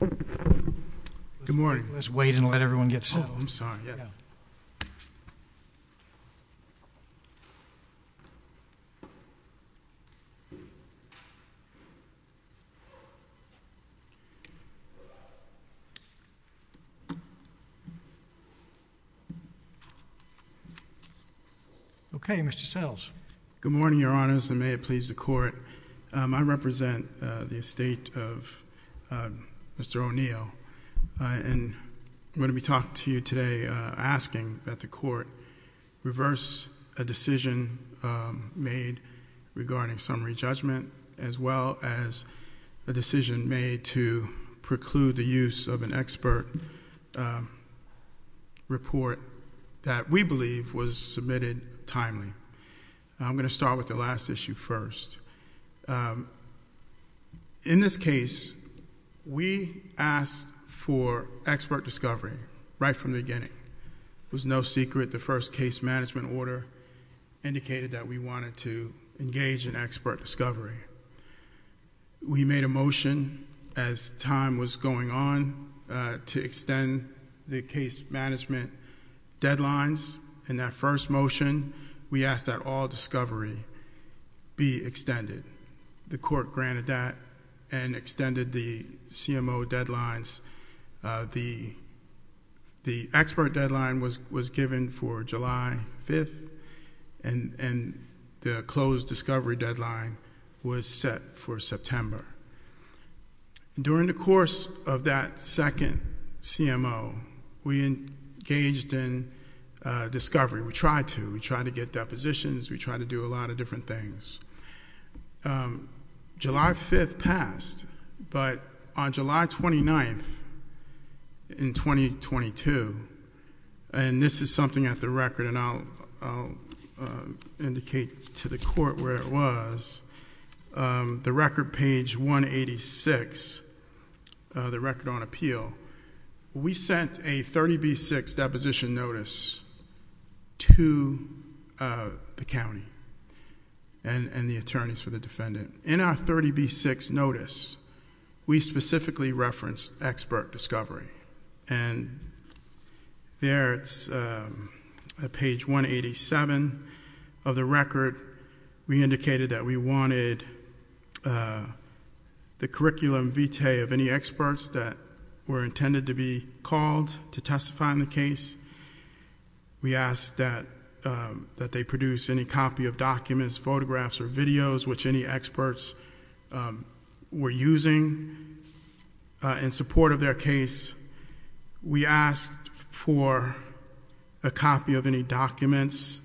Good morning. Let's wait and let everyone get settled. Oh, I'm sorry, yes. Okay, Mr. Sells. Good morning, Your Honors, and may it please the Court, I represent the estate of Mr. O'Neill, and I'm going to be talking to you today asking that the Court reverse a decision made regarding summary judgment, as well as a decision made to preclude the use of an expert report that we believe was submitted timely. I'm going to start with the last issue first. In this case, we asked for expert discovery right from the beginning. It was no secret the first case management order indicated that we wanted to engage in expert discovery. We made a motion as time was going on to extend the case management deadlines. In that first motion, we asked that all discovery be extended. The Court granted that and extended the CMO deadlines. The expert deadline was given for July 5th, and the closed discovery deadline was set for September. During the course of that second CMO, we engaged in discovery. We tried to. We tried to get depositions. We tried to do a lot of different things. July 5th passed, but on July 29th in 2022, and this is something at the record, and I'll indicate to the Court where it was, the record page 186, the record on appeal, we sent a 30B6 deposition notice to the county and the attorneys for the defendant. In our 30B6 notice, we specifically referenced expert discovery. There, it's page 187 of the record, we indicated that we wanted the curriculum vitae of any experts that were intended to be called to testify on the case. We asked that they produce any copy of documents, photographs, or videos which any experts were using in support of their case. We asked for a copy of any documents,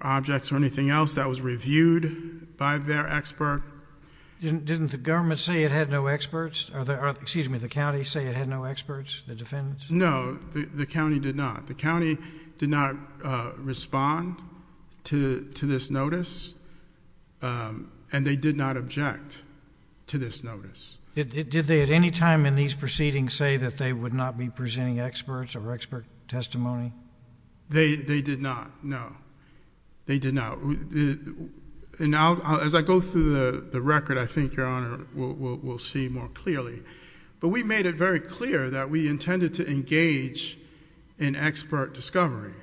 objects, or anything else that was reviewed by their expert. Didn't the government say it had no experts? Excuse me, the county say it had no experts, the defendants? No, the county did not. The county did not respond to this notice, and they did not object to this notice. Did they at any time in these proceedings say that they would not be presenting experts or expert testimony? They did not, no. They did not. And as I go through the record, I think, Your Honor, we'll see more clearly. But we made it very clear that we intended to engage in expert discovery.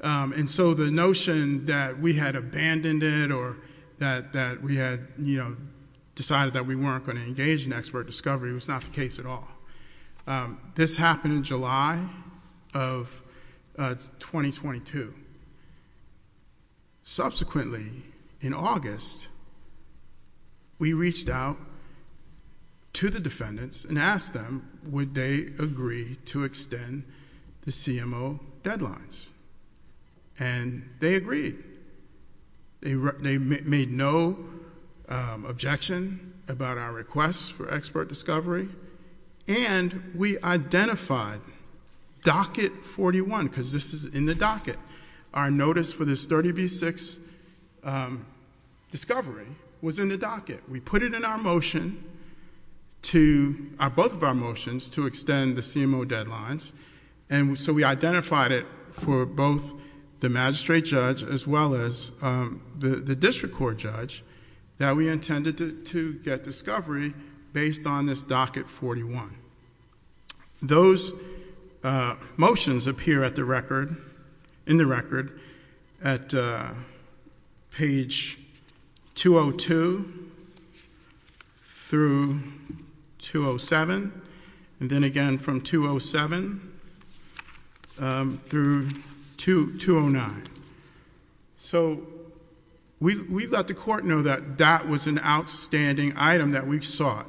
And so the notion that we had abandoned it or that we had decided that we weren't going to engage in expert discovery was not the case at all. This happened in July of 2022. Subsequently, in August, we reached out to the defendants and asked them would they agree to extend the CMO deadlines. And they agreed. They made no objection about our request for expert discovery. And we identified docket 41, because this is in the docket. Our notice for this 30B6 discovery was in the docket. We put it in our motion, both of our motions, to extend the CMO deadlines. And so we identified it for both the magistrate judge as well as the district court judge that we intended to get discovery based on this docket 41. Those motions appear in the record at page 202 through 207, and then again from 207 through 209. So we let the court know that that was an outstanding item that we sought,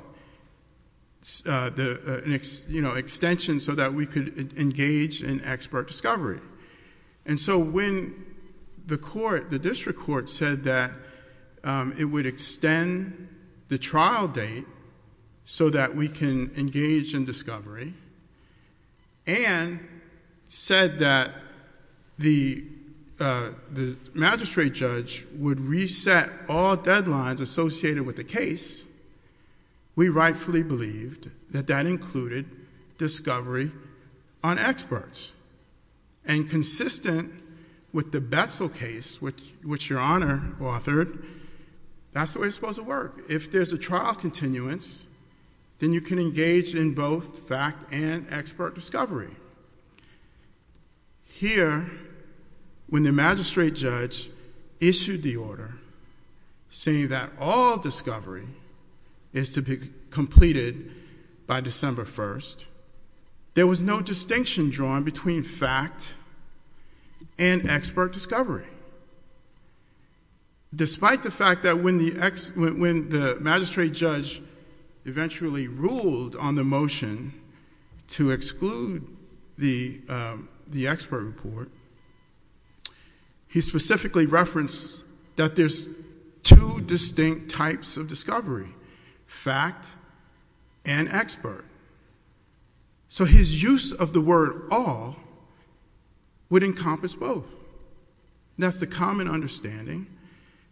extension so that we could engage in expert discovery. And so when the court, the district court said that it would extend the trial date so that we can engage in discovery, and said that the magistrate judge would reset all deadlines associated with the case, we rightfully believed that that included discovery on experts. And consistent with the Betzel case, which your Honor authored, that's the way it's supposed to work. If there's a trial continuance, then you can engage in both fact and expert discovery. Here, when the magistrate judge issued the order saying that all discovery is to be completed by December 1st, there was no distinction drawn between fact and expert discovery. Despite the fact that when the magistrate judge eventually ruled on the motion to exclude the expert report, he specifically referenced that there's two distinct types of discovery, fact and expert. So his use of the word all would encompass both. That's the common understanding,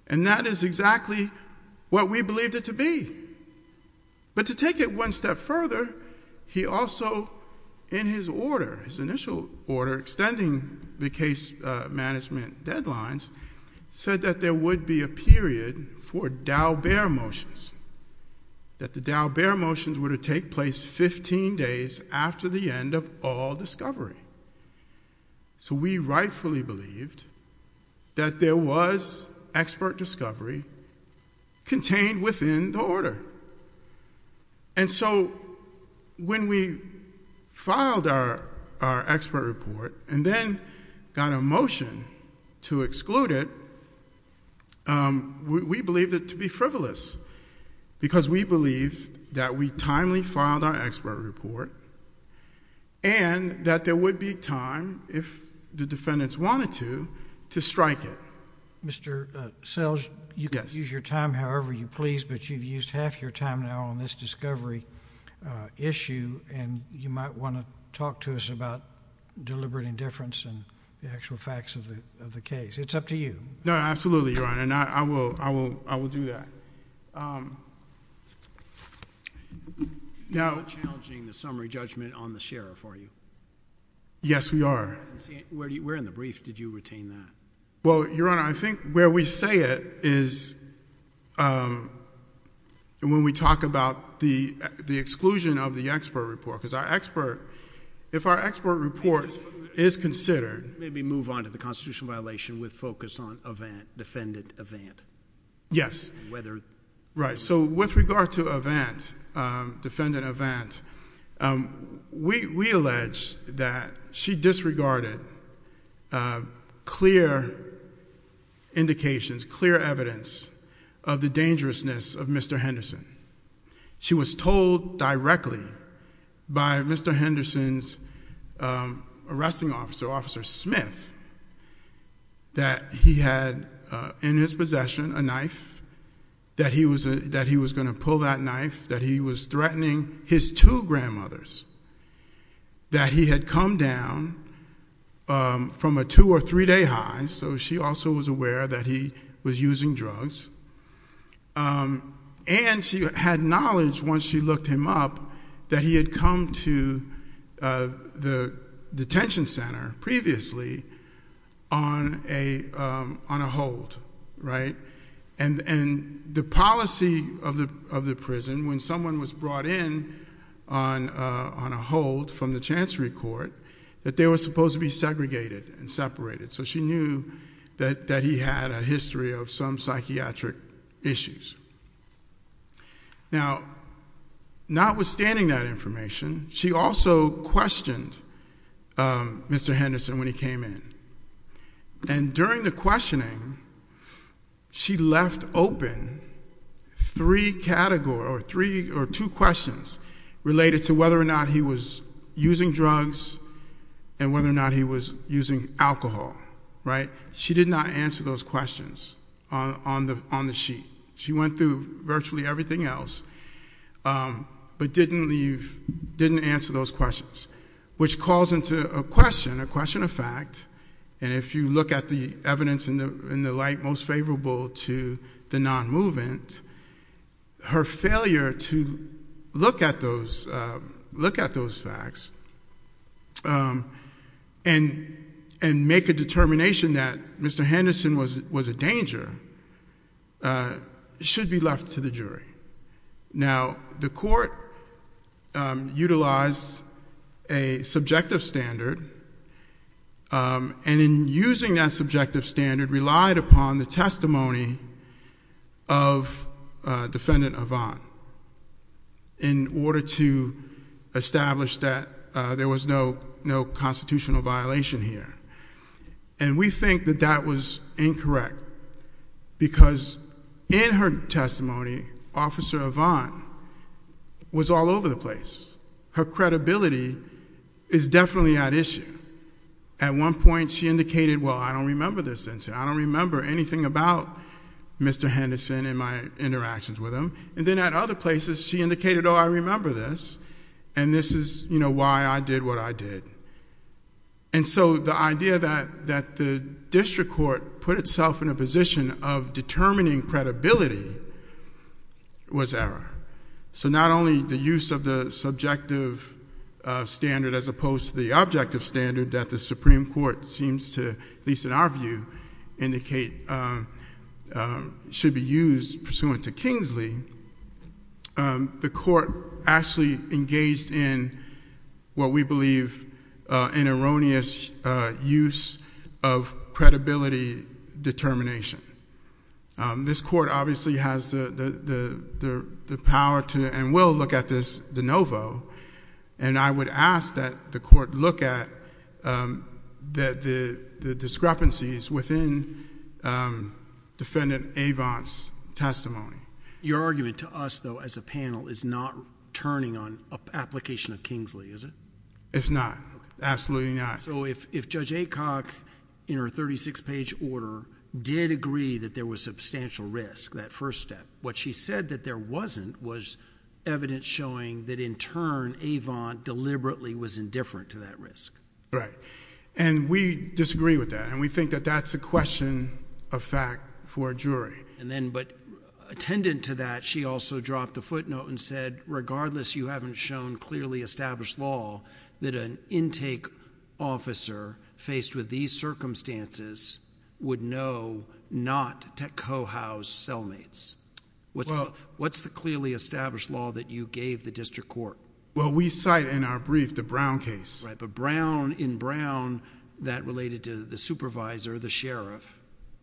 and that is exactly what we believed it to be. But to take it one step further, he also, in his order, his initial order extending the case management deadlines, said that there would be a period for Daubert motions, that the Daubert motions were to take place 15 days after the end of all discovery. So we rightfully believed that there was expert discovery contained within the order. And so when we filed our expert report and then got a motion to exclude it, we believed it to be frivolous because we believed that we timely filed our expert report and that there would be time, if the defendants wanted to, to strike it. Mr. Selge, you can use your time however you please, but you've used half your time now on this discovery issue, and you might want to talk to us about deliberate indifference and the actual facts of the case. It's up to you. No, absolutely, Your Honor, and I will do that. You're not challenging the summary judgment on the sheriff, are you? Yes, we are. Where in the brief did you retain that? Well, Your Honor, I think where we say it is when we talk about the exclusion of the expert report, because our expert, report is considered. Maybe move on to the constitutional violation with focus on event, defendant event. Yes. Whether. Right, so with regard to event, defendant event, we allege that she disregarded clear indications, clear evidence of the dangerousness of Mr. Henderson's arresting officer, Officer Smith, that he had in his possession a knife, that he was going to pull that knife, that he was threatening his two grandmothers, that he had come down from a two or three day high, so she also was aware that he was using drugs, and she had knowledge, once she looked him up, that he had come to the detention center previously on a hold, right? And the policy of the prison, when someone was brought in on a hold from the Chancery Court, that they were supposed to be segregated and separated, so she knew that he had a history of some psychiatric issues. Now, notwithstanding that information, she also questioned Mr. Henderson when he came in, and during the questioning, she left open three categories, or two questions related to whether or not he was alcohol, right? She did not answer those questions on the sheet. She went through virtually everything else, but didn't answer those questions, which calls into a question, a question of fact, and if you look at the evidence in the light most favorable to the non-movement, her failure to look at those facts and make a determination that Mr. Henderson was a danger should be left to the jury. Now, the court utilized a subjective standard, and in using that subjective standard, relied upon the testimony of Defendant Ivan in order to establish that there was no constitutional violation here, and we think that that was incorrect, because in her testimony, Officer Ivan was all over the place. Her credibility is definitely at issue. At one point, she indicated, well, I don't remember this incident. I don't remember anything about Mr. Henderson and my interactions with him, and then at other places, she indicated, oh, I remember this, and this is why I did what I did, and so the idea that the district court put itself in a position of determining credibility was error, so not only the use of the subjective standard as opposed to the objective standard that the Supreme Court seems to, at least in our view, indicate should be used pursuant to Kingsley, the court actually engaged in what we believe an erroneous use of credibility determination. This court obviously has the power to and will look at this de novo, and I would ask that the court look at the discrepancies within Defendant Ivan's testimony. Your argument to us, though, as a panel is not turning on application of Kingsley, is it? It's not. Absolutely not. So if Judge Aycock, in her 36-page order, did agree that there was substantial risk, what she said that there wasn't was evidence showing that in turn, Ivan deliberately was indifferent to that risk. Right, and we disagree with that, and we think that that's a question of fact for a jury. And then, but attendant to that, she also dropped a footnote and said, regardless, you haven't shown clearly established law that an intake officer faced with these circumstances would know not to co-house cellmates. What's the clearly established law that you gave the district court? Well, we cite in our brief the Brown case. Right, but in Brown, that related to the supervisor, the sheriff,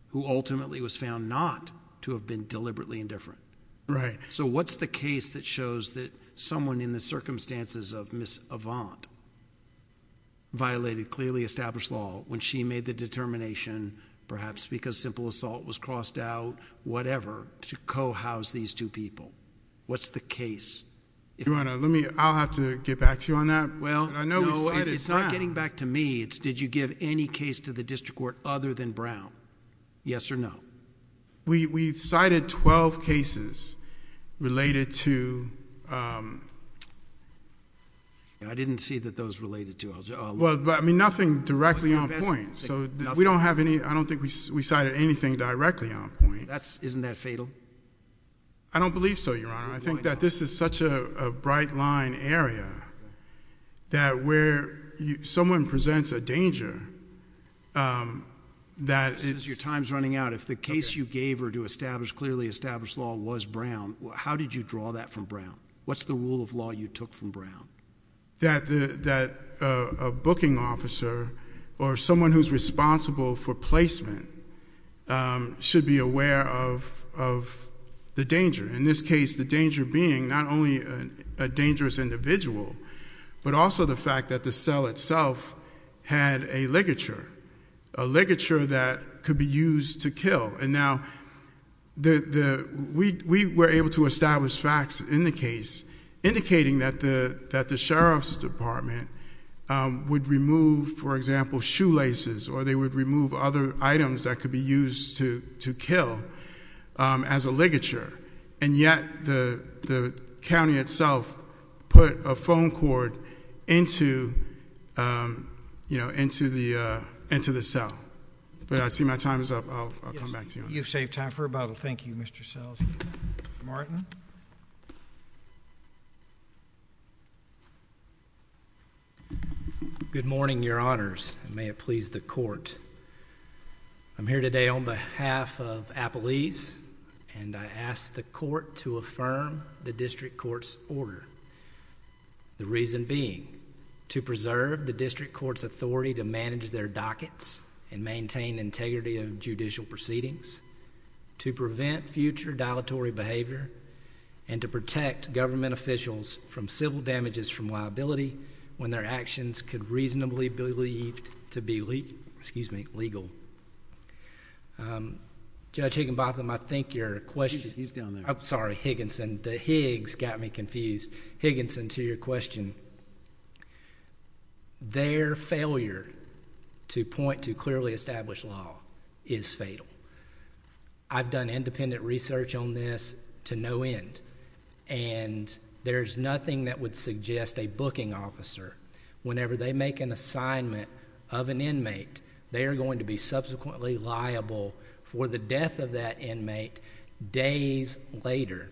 who ultimately was found not to have been deliberately indifferent. Right. So what's the case that shows that someone in the circumstances of Ms. Avant violated clearly established law when she made the determination, perhaps because simple assault was crossed out, whatever, to co-house these two people? What's the case? Your Honor, let me, I'll have to get back to you on that. Well, no, it's not getting back to me. It's did you give any case to the district court other than Brown? Yes or no? We cited 12 cases related to... I didn't see that those related to... Well, I mean, nothing directly on point. So we don't have any, I don't think we cited anything directly on point. That's, isn't that fatal? I don't believe so, Your Honor. I think that this is such a bright line area that where someone presents a danger that it's... Your time's running out. If the case you gave her to establish clearly established law was Brown, how did you draw that from Brown? What's the rule of law you took from Brown? That a booking officer or someone who's responsible for placement should be aware of the danger. In this case, the danger being not only a dangerous individual, but also the fact that the cell itself had a ligature, a ligature that could be used to kill. And now, we were able to establish facts in the case indicating that the sheriff's department would remove, for example, shoelaces, or they would remove other items that could be used to kill as a ligature. And yet, the county itself put a phone cord into the cell. But I see my time is up. I'll come back to you. You've saved time for a bottle. Thank you, Mr. Sells. Mr. Martin? Good morning, Your Honors, and may it please the Court. I'm here today on behalf of Appalese, and I ask the Court to affirm the district court's order, the reason being to preserve the district court's authority to manage their dockets and maintain integrity of judicial proceedings, to prevent future dilatory behavior, and to protect government officials from civil damages from liability when their actions could reasonably be believed to be legal. Judge Higginbotham, I think your question— He's down there. Sorry, Higginson. The Higgs got me confused. Higginson, to your question. Their failure to point to clearly established law is fatal. I've done independent research on this to no end, and there's nothing that would suggest a booking officer, whenever they make an assignment of an inmate, they are going to be subsequently liable for the death of that inmate days later.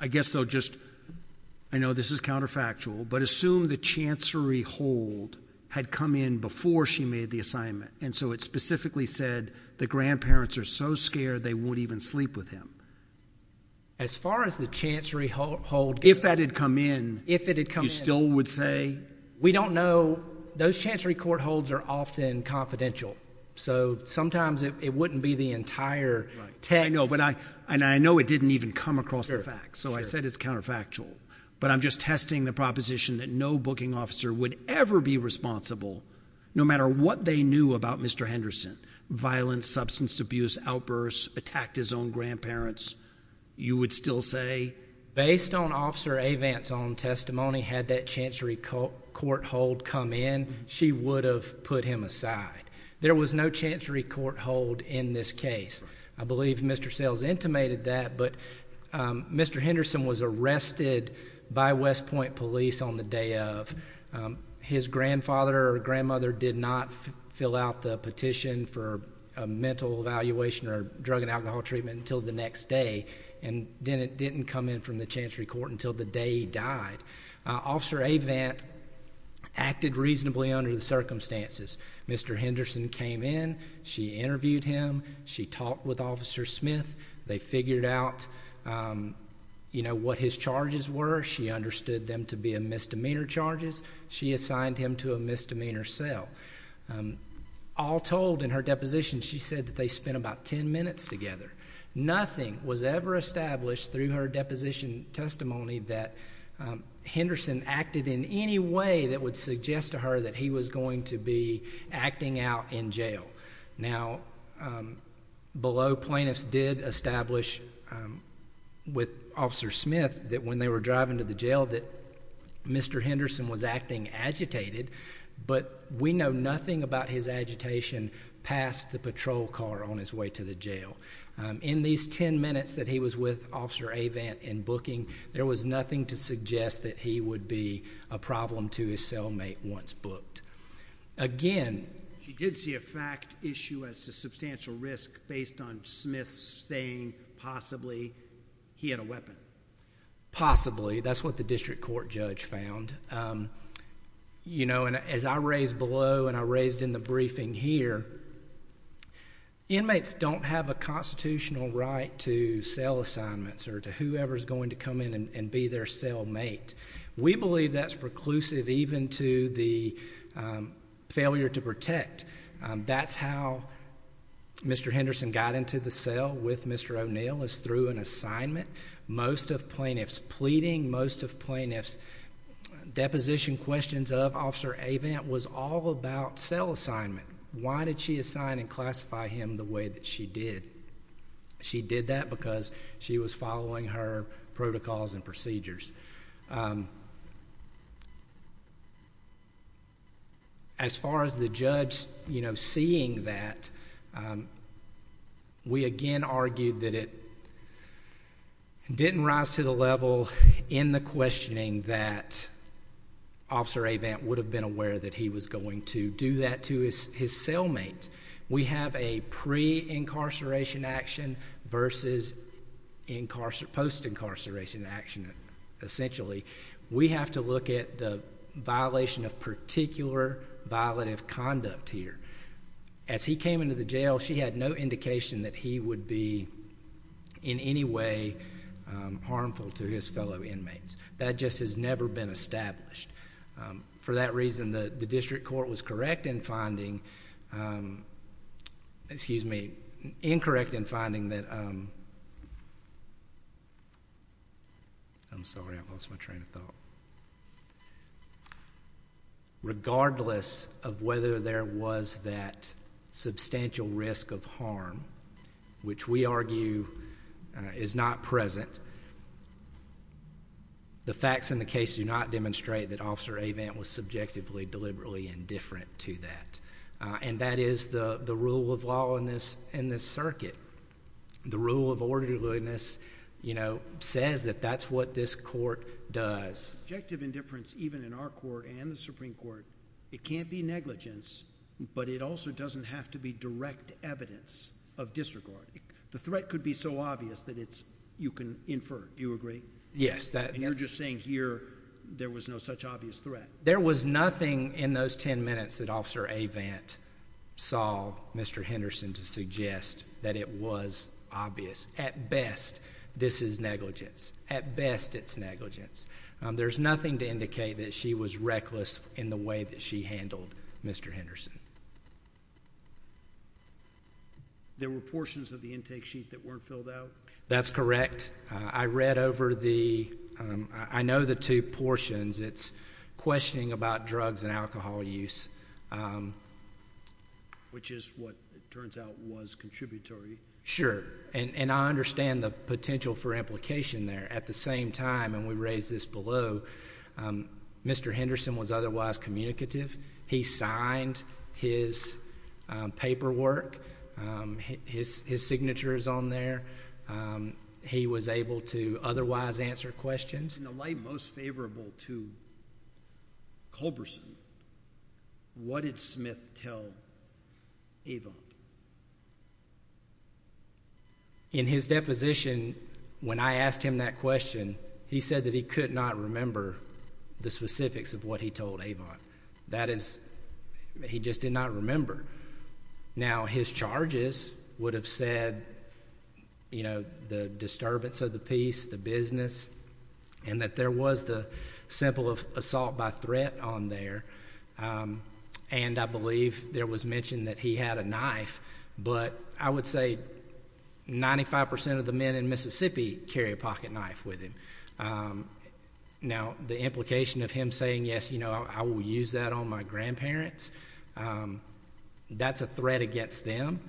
I guess, though, just—I know this is counterfactual, but assume the chancery hold had come in before she made the assignment, and so it specifically said the grandparents are so scared they won't even sleep with him. As far as the chancery hold goes— If that had come in— If it had come in— You still would say— We don't know. Those chancery court holds are often confidential, so sometimes it wouldn't be the entire text. I know, but I—and I know it didn't even come across the facts, so I said it's counterfactual, but I'm just testing the proposition that no booking officer would ever be responsible, no matter what they knew about Mr. Henderson—violence, substance abuse, outbursts, attacked his own grandparents—you would still say— Based on Officer Avant's own testimony, had that chancery court hold come in, she would have put him aside. There was no chancery court hold in this case. I believe Mr. Sales intimated that, but Mr. Henderson was arrested by West Point Police on the day of. His grandfather or grandmother did not fill out the petition for a mental evaluation or drug and alcohol treatment until the next day, and then it didn't come in from the chancery court until the day he died. Officer Avant acted reasonably under the circumstances. Mr. Henderson came in. She interviewed him. She talked with Officer Smith. They figured out, you know, what his charges were. She understood them to be a misdemeanor charges. She assigned him to a misdemeanor cell. All told, in her deposition, she said that they spent about 10 minutes together. Nothing was ever established through her deposition testimony that Henderson acted in any way that would suggest to her that he was going to be acting out in jail. Now, below, plaintiffs did establish with Officer Smith that when they were driving to the jail that Mr. Henderson was acting agitated, but we know nothing about his agitation past the patrol car on his way to the jail. In these 10 minutes that he was with Officer Avant in booking, there was nothing to suggest that he would be a problem to his cellmate once booked. Again, she did see a fact issue as to substantial risk based on Smith saying possibly he had a weapon. Possibly. That's what the district court judge found. You know, as I raised below and I raised in the briefing here, inmates don't have a constitutional right to sell assignments or whoever is going to come in and be their cellmate. We believe that's preclusive even to the failure to protect. That's how Mr. Henderson got into the cell with Mr. O'Neill is through an assignment. Most of plaintiffs pleading, most of plaintiffs' deposition questions of Officer Avant was all about cell assignment. Why did she assign and classify him the way that she did? She did that because she was following her protocols and procedures. As far as the judge, you know, seeing that, we again argued that it didn't rise to the level in the questioning that Officer Avant would have been aware that he was going to do that to his cellmate. We have a pre-incarceration action versus post-incarceration action essentially. We have to look at the violation of particular violative conduct here. As he came into the jail, she had no indication that he would be in any way harmful to his fellow inmates. That just has never been established. For that reason, the district court was correct in finding, excuse me, incorrect in finding that, I'm sorry, I lost my train of thought. Regardless of whether there was that substantial risk of harm, which we argue is not present, the facts in the case do not demonstrate that Officer Avant was subjectively, deliberately indifferent to that. That is the rule of law in this circuit. The rule of orderliness says that that's what this court does. Subjective indifference, even in our court and the Supreme Court, it can't be negligence, but it also doesn't have to be direct evidence of disregard. The agree? Yes. And you're just saying here there was no such obvious threat? There was nothing in those 10 minutes that Officer Avant saw Mr. Henderson to suggest that it was obvious. At best, this is negligence. At best, it's negligence. There's nothing to indicate that she was reckless in the way that she handled Mr. Henderson. There were portions of the intake sheet that I read over. I know the two portions. It's questioning about drugs and alcohol use, which is what it turns out was contributory. Sure. And I understand the potential for implication there. At the same time, and we raised this below, Mr. Henderson was otherwise able to answer questions. In the light most favorable to Culberson, what did Smith tell Avant? In his deposition, when I asked him that question, he said that he could not remember the specifics of what he told Avant. That is, he just did not remember. Now, his charges would have said the disturbance of the peace, the business, and that there was the simple of assault by threat on there. And I believe there was mention that he had a knife, but I would say 95% of the men in Mississippi carry a pocketknife with him. Now, the implication of him saying, I will use that on my grandparents, that's a threat against them.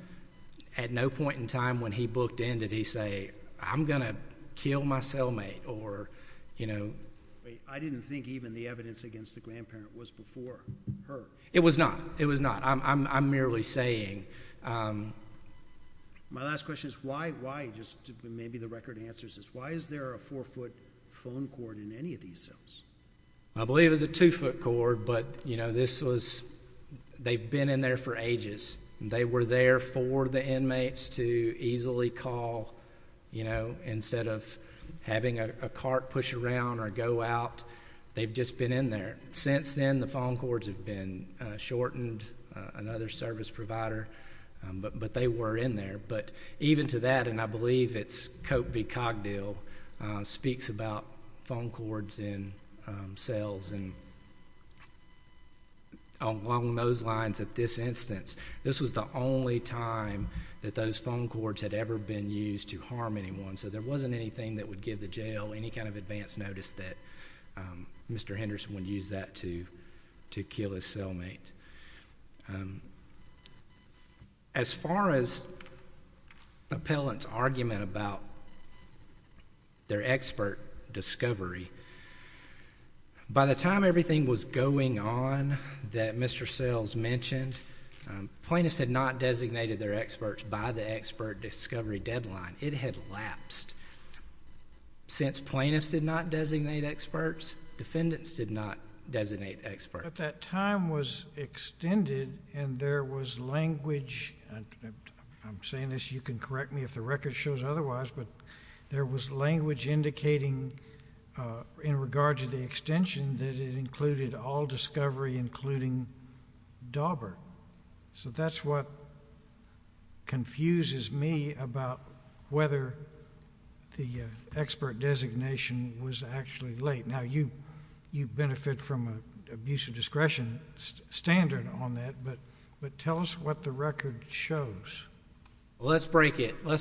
At no point in time when he booked in did he say, I'm going to kill my cellmate. I didn't think even the evidence against the grandparent was before her. It was not. It was not. I'm merely saying. My last question is, why is there a four-foot phone cord in any of these cells? I believe it was a two-foot cord, but they've been in there for ages. They were there for the inmates to easily call. Instead of having a cart push around or go out, they've just been in there. Since then, the phone cords have been shortened, another service provider, but they were in there. Even to that, and I believe it's Cope v. Cogdill, speaks about phone cords in cells. Along those lines at this instance, this was the only time that those phone cords had ever been used to harm anyone. There wasn't anything that would give the jail any kind of advance notice that Mr. Henderson would use that to kill his cellmate. As far as appellant's argument about their expert discovery, by the time everything was going on that Mr. Sells mentioned, plaintiffs had not designated their experts by the expert discovery deadline. It had lapsed. Since plaintiffs did not designate experts, defendants did not designate experts. But that time was extended and there was language, I'm saying this, you can correct me if the record shows otherwise, but there was language indicating in regard to the extension that it included all expert discovery deadlines. Let's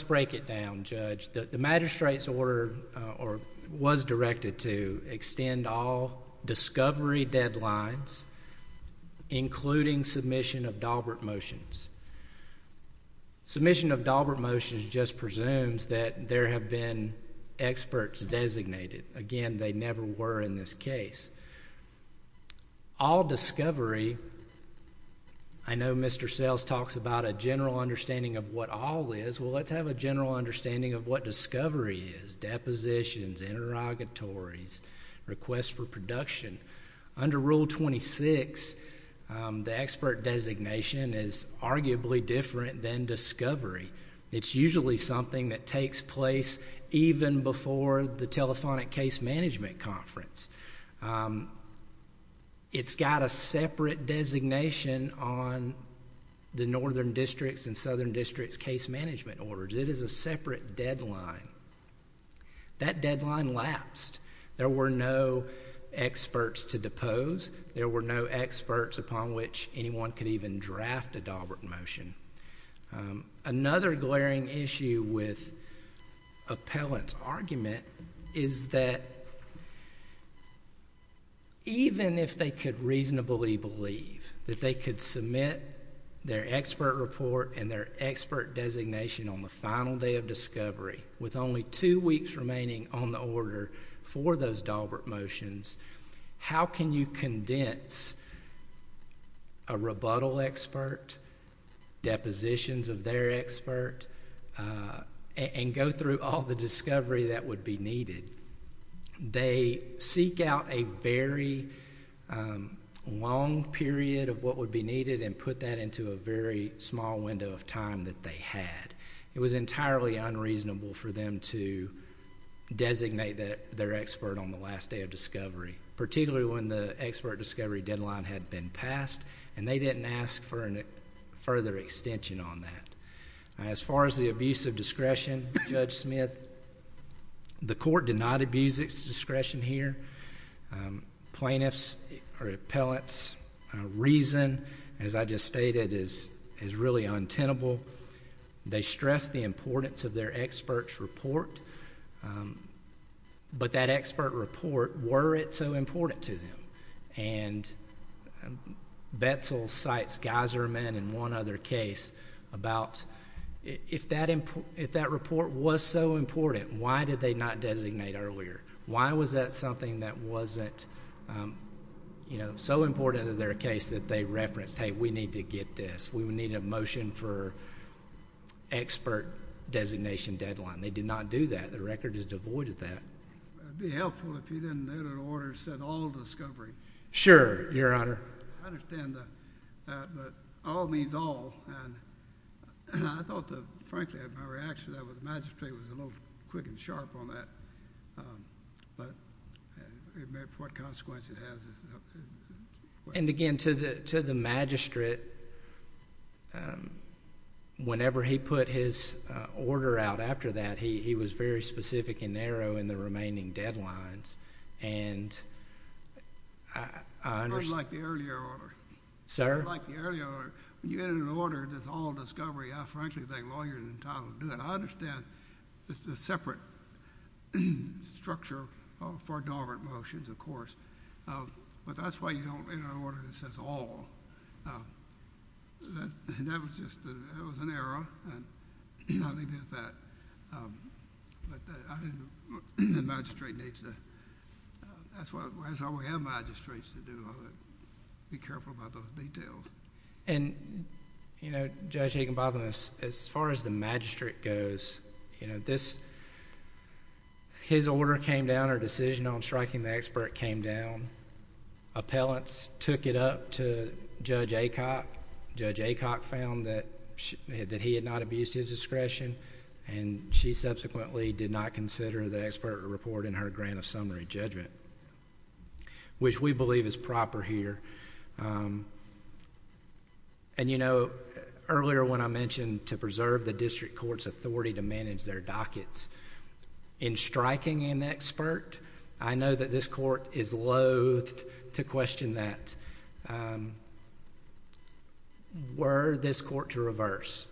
break it down, Judge. The magistrate's order was directed to extend all discovery deadlines, including submission of Daubert motions. Submission of Daubert motions just presumes that there have been experts designated. Again, they never were in this case. All discovery, I know Mr. Sells talks about a general understanding of what all is. Well, let's have a general understanding of what discovery is. Depositions, interrogatories, requests for production. Under Rule 26, the expert designation is arguably different than discovery. It's usually something that takes place even before the telephonic case management conference. It's got a separate designation on the northern districts and there were no experts to depose. There were no experts upon which anyone could even draft a Daubert motion. Another glaring issue with appellant's argument is that even if they could reasonably believe that they could submit their expert report and their expert designation on the final day of discovery, with only two weeks remaining on the order for those Daubert motions, how can you condense a rebuttal expert, depositions of their expert and go through all the discovery that would be needed? They seek out a very long period of what would be entirely unreasonable for them to designate their expert on the last day of discovery, particularly when the expert discovery deadline had been passed and they didn't ask for a further extension on that. As far as the abuse of discretion, Judge Smith, the court did not abuse its discretion here. Plaintiff's or appellant's reason, as I just said, was the importance of their expert's report. But that expert report, were it so important to them? And Betzel cites Geiserman and one other case about if that report was so important, why did they not designate earlier? Why was that something that wasn't so important in their case that they referenced, hey, we need to get this. We need a motion for expert designation deadline. They did not do that. The record is devoid of that. It would be helpful if you didn't have an order that said all discovery. Sure, your honor. I understand that. But all means all. I thought, frankly, my reaction to that was the magistrate was a little quick and sharp on that. But it meant what consequence it has. And again, to the magistrate, whenever he put his order out after that, he was very specific and narrow in the remaining deadlines. And I understand. I don't like the earlier order. Sir? I don't like the earlier order. You added an order that's all discovery. I frankly think lawyers and titles do that. I understand it's a separate structure for dormant motions, of course. But that's why you don't enter an order that says all. That was just an error. And I'll leave it at that. But the magistrate needs to, that's why we have magistrates to do it. Be careful about those details. And, you know, Judge Higginbotham, as far as the magistrate goes, you know, his order came down, her decision on striking the expert came down. Appellants took it up to Judge Acock. Judge Acock found that he had not abused his discretion. And she subsequently did not consider the expert report in her grant of summary judgment, which we believe is proper here. And, you know, earlier when I mentioned to preserve the district court's authority to manage their dockets, in striking an expert, I know that this court is loathed to question that. Were this court to reverse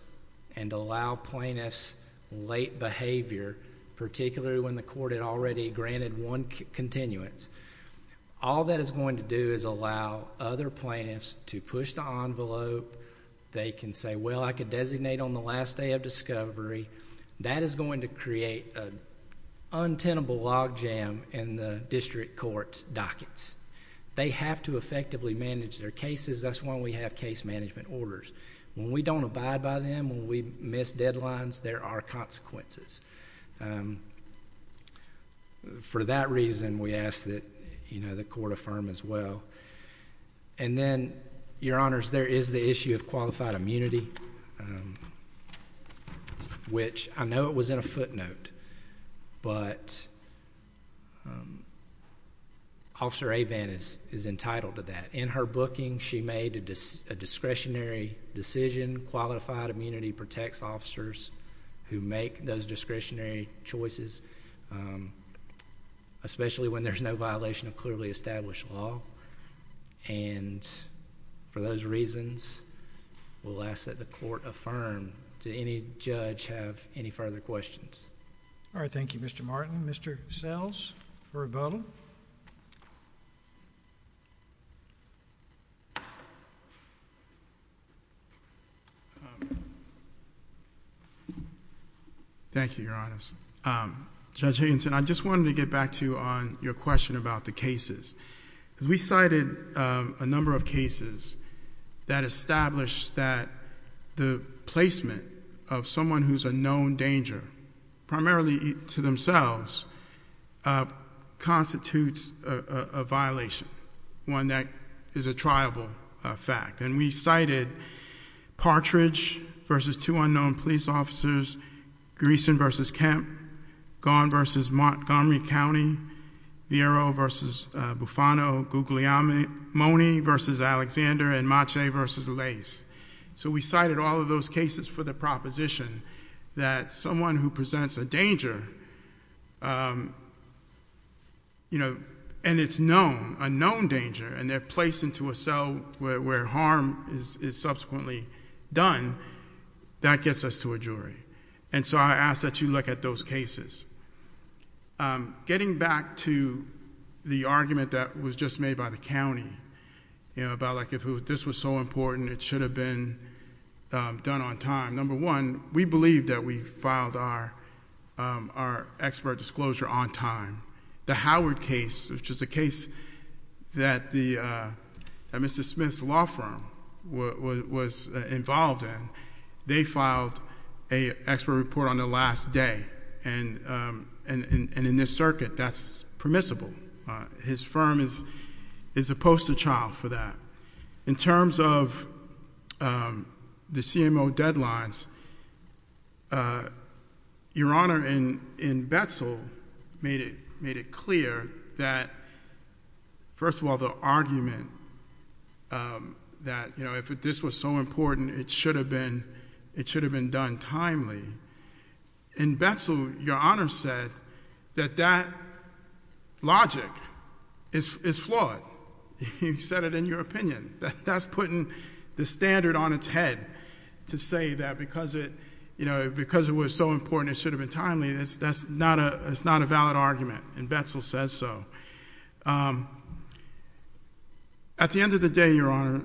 and allow plaintiffs late behavior, particularly when the court had granted one continuance, all that is going to do is allow other plaintiffs to push the envelope. They can say, well, I could designate on the last day of discovery. That is going to create an untenable logjam in the district court's dockets. They have to effectively manage their cases. That's why we have case management orders. When we don't abide by them, when we miss deadlines, there are consequences. For that reason, we ask that the court affirm as well. And then, your honors, there is the issue of qualified immunity, which I know it was in a footnote, but Officer Avan is entitled to that. In her booking, she made a discretionary decision, qualified immunity protects officers who make those discretionary choices, especially when there is no violation of clearly established law. And for those reasons, we will ask that the court affirm. Does any judge have any further questions? All right. Thank you, Mr. Martin. Mr. Sells for rebuttal. Thank you, your honors. Judge Haynes, I just wanted to get back to you on your question about the cases. We cited a number of cases that established that the placement of someone who is a known danger, primarily to themselves, constitutes a violation, one that is a triable fact. And we cited Partridge versus two unknown police officers, Greeson versus Kemp, Gaughan versus Montgomery County, Vieiro versus Bufano, Guglielmo versus Alexander, and Mache versus Lace. So we cited all of those cases for the proposition that someone who presents a danger, and it's known, a known danger, and they're placed into a cell where harm is subsequently done, that gets us to a jury. And so I ask that you look at those cases. Getting back to the argument that was just made by the county, you know, about like, if this was so important, it should have been done on time. Number one, we believe that we filed our expert disclosure on time. The Howard case, which is a case that Mr. Smith's law firm was involved in, they filed an expert report on the last day. And in this circuit, that's permissible. His firm is a poster child for that. In terms of the CMO deadlines, your Honor, in Betzel, made it clear that, first of all, the argument that, you know, if this was so important, it should have been done timely. In Betzel, your Honor said that that logic is flawed. You said it in your opinion. That's putting the standard on its head to say that because it, you know, because it was so important, it should have been timely. That's not a valid argument, and Betzel says so. At the end of the day, your Honor,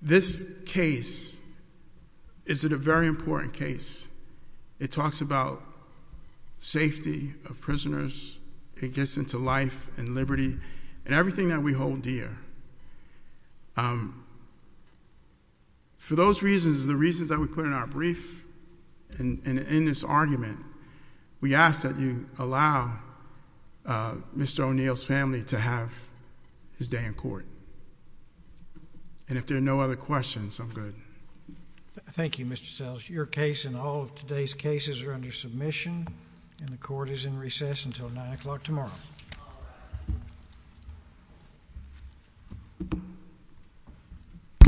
this case is a very important case. It talks about safety of prisoners. It gets into life and liberty and everything that we hold dear. For those reasons, the reasons that we put in our brief and in this argument, we ask that you allow Mr. O'Neill's family to have his day in court. And if there are no other questions, I'm good. Thank you, Mr. Sellers. Your case and all of today's cases are under submission, and the court is in recess until 9 o'clock tomorrow.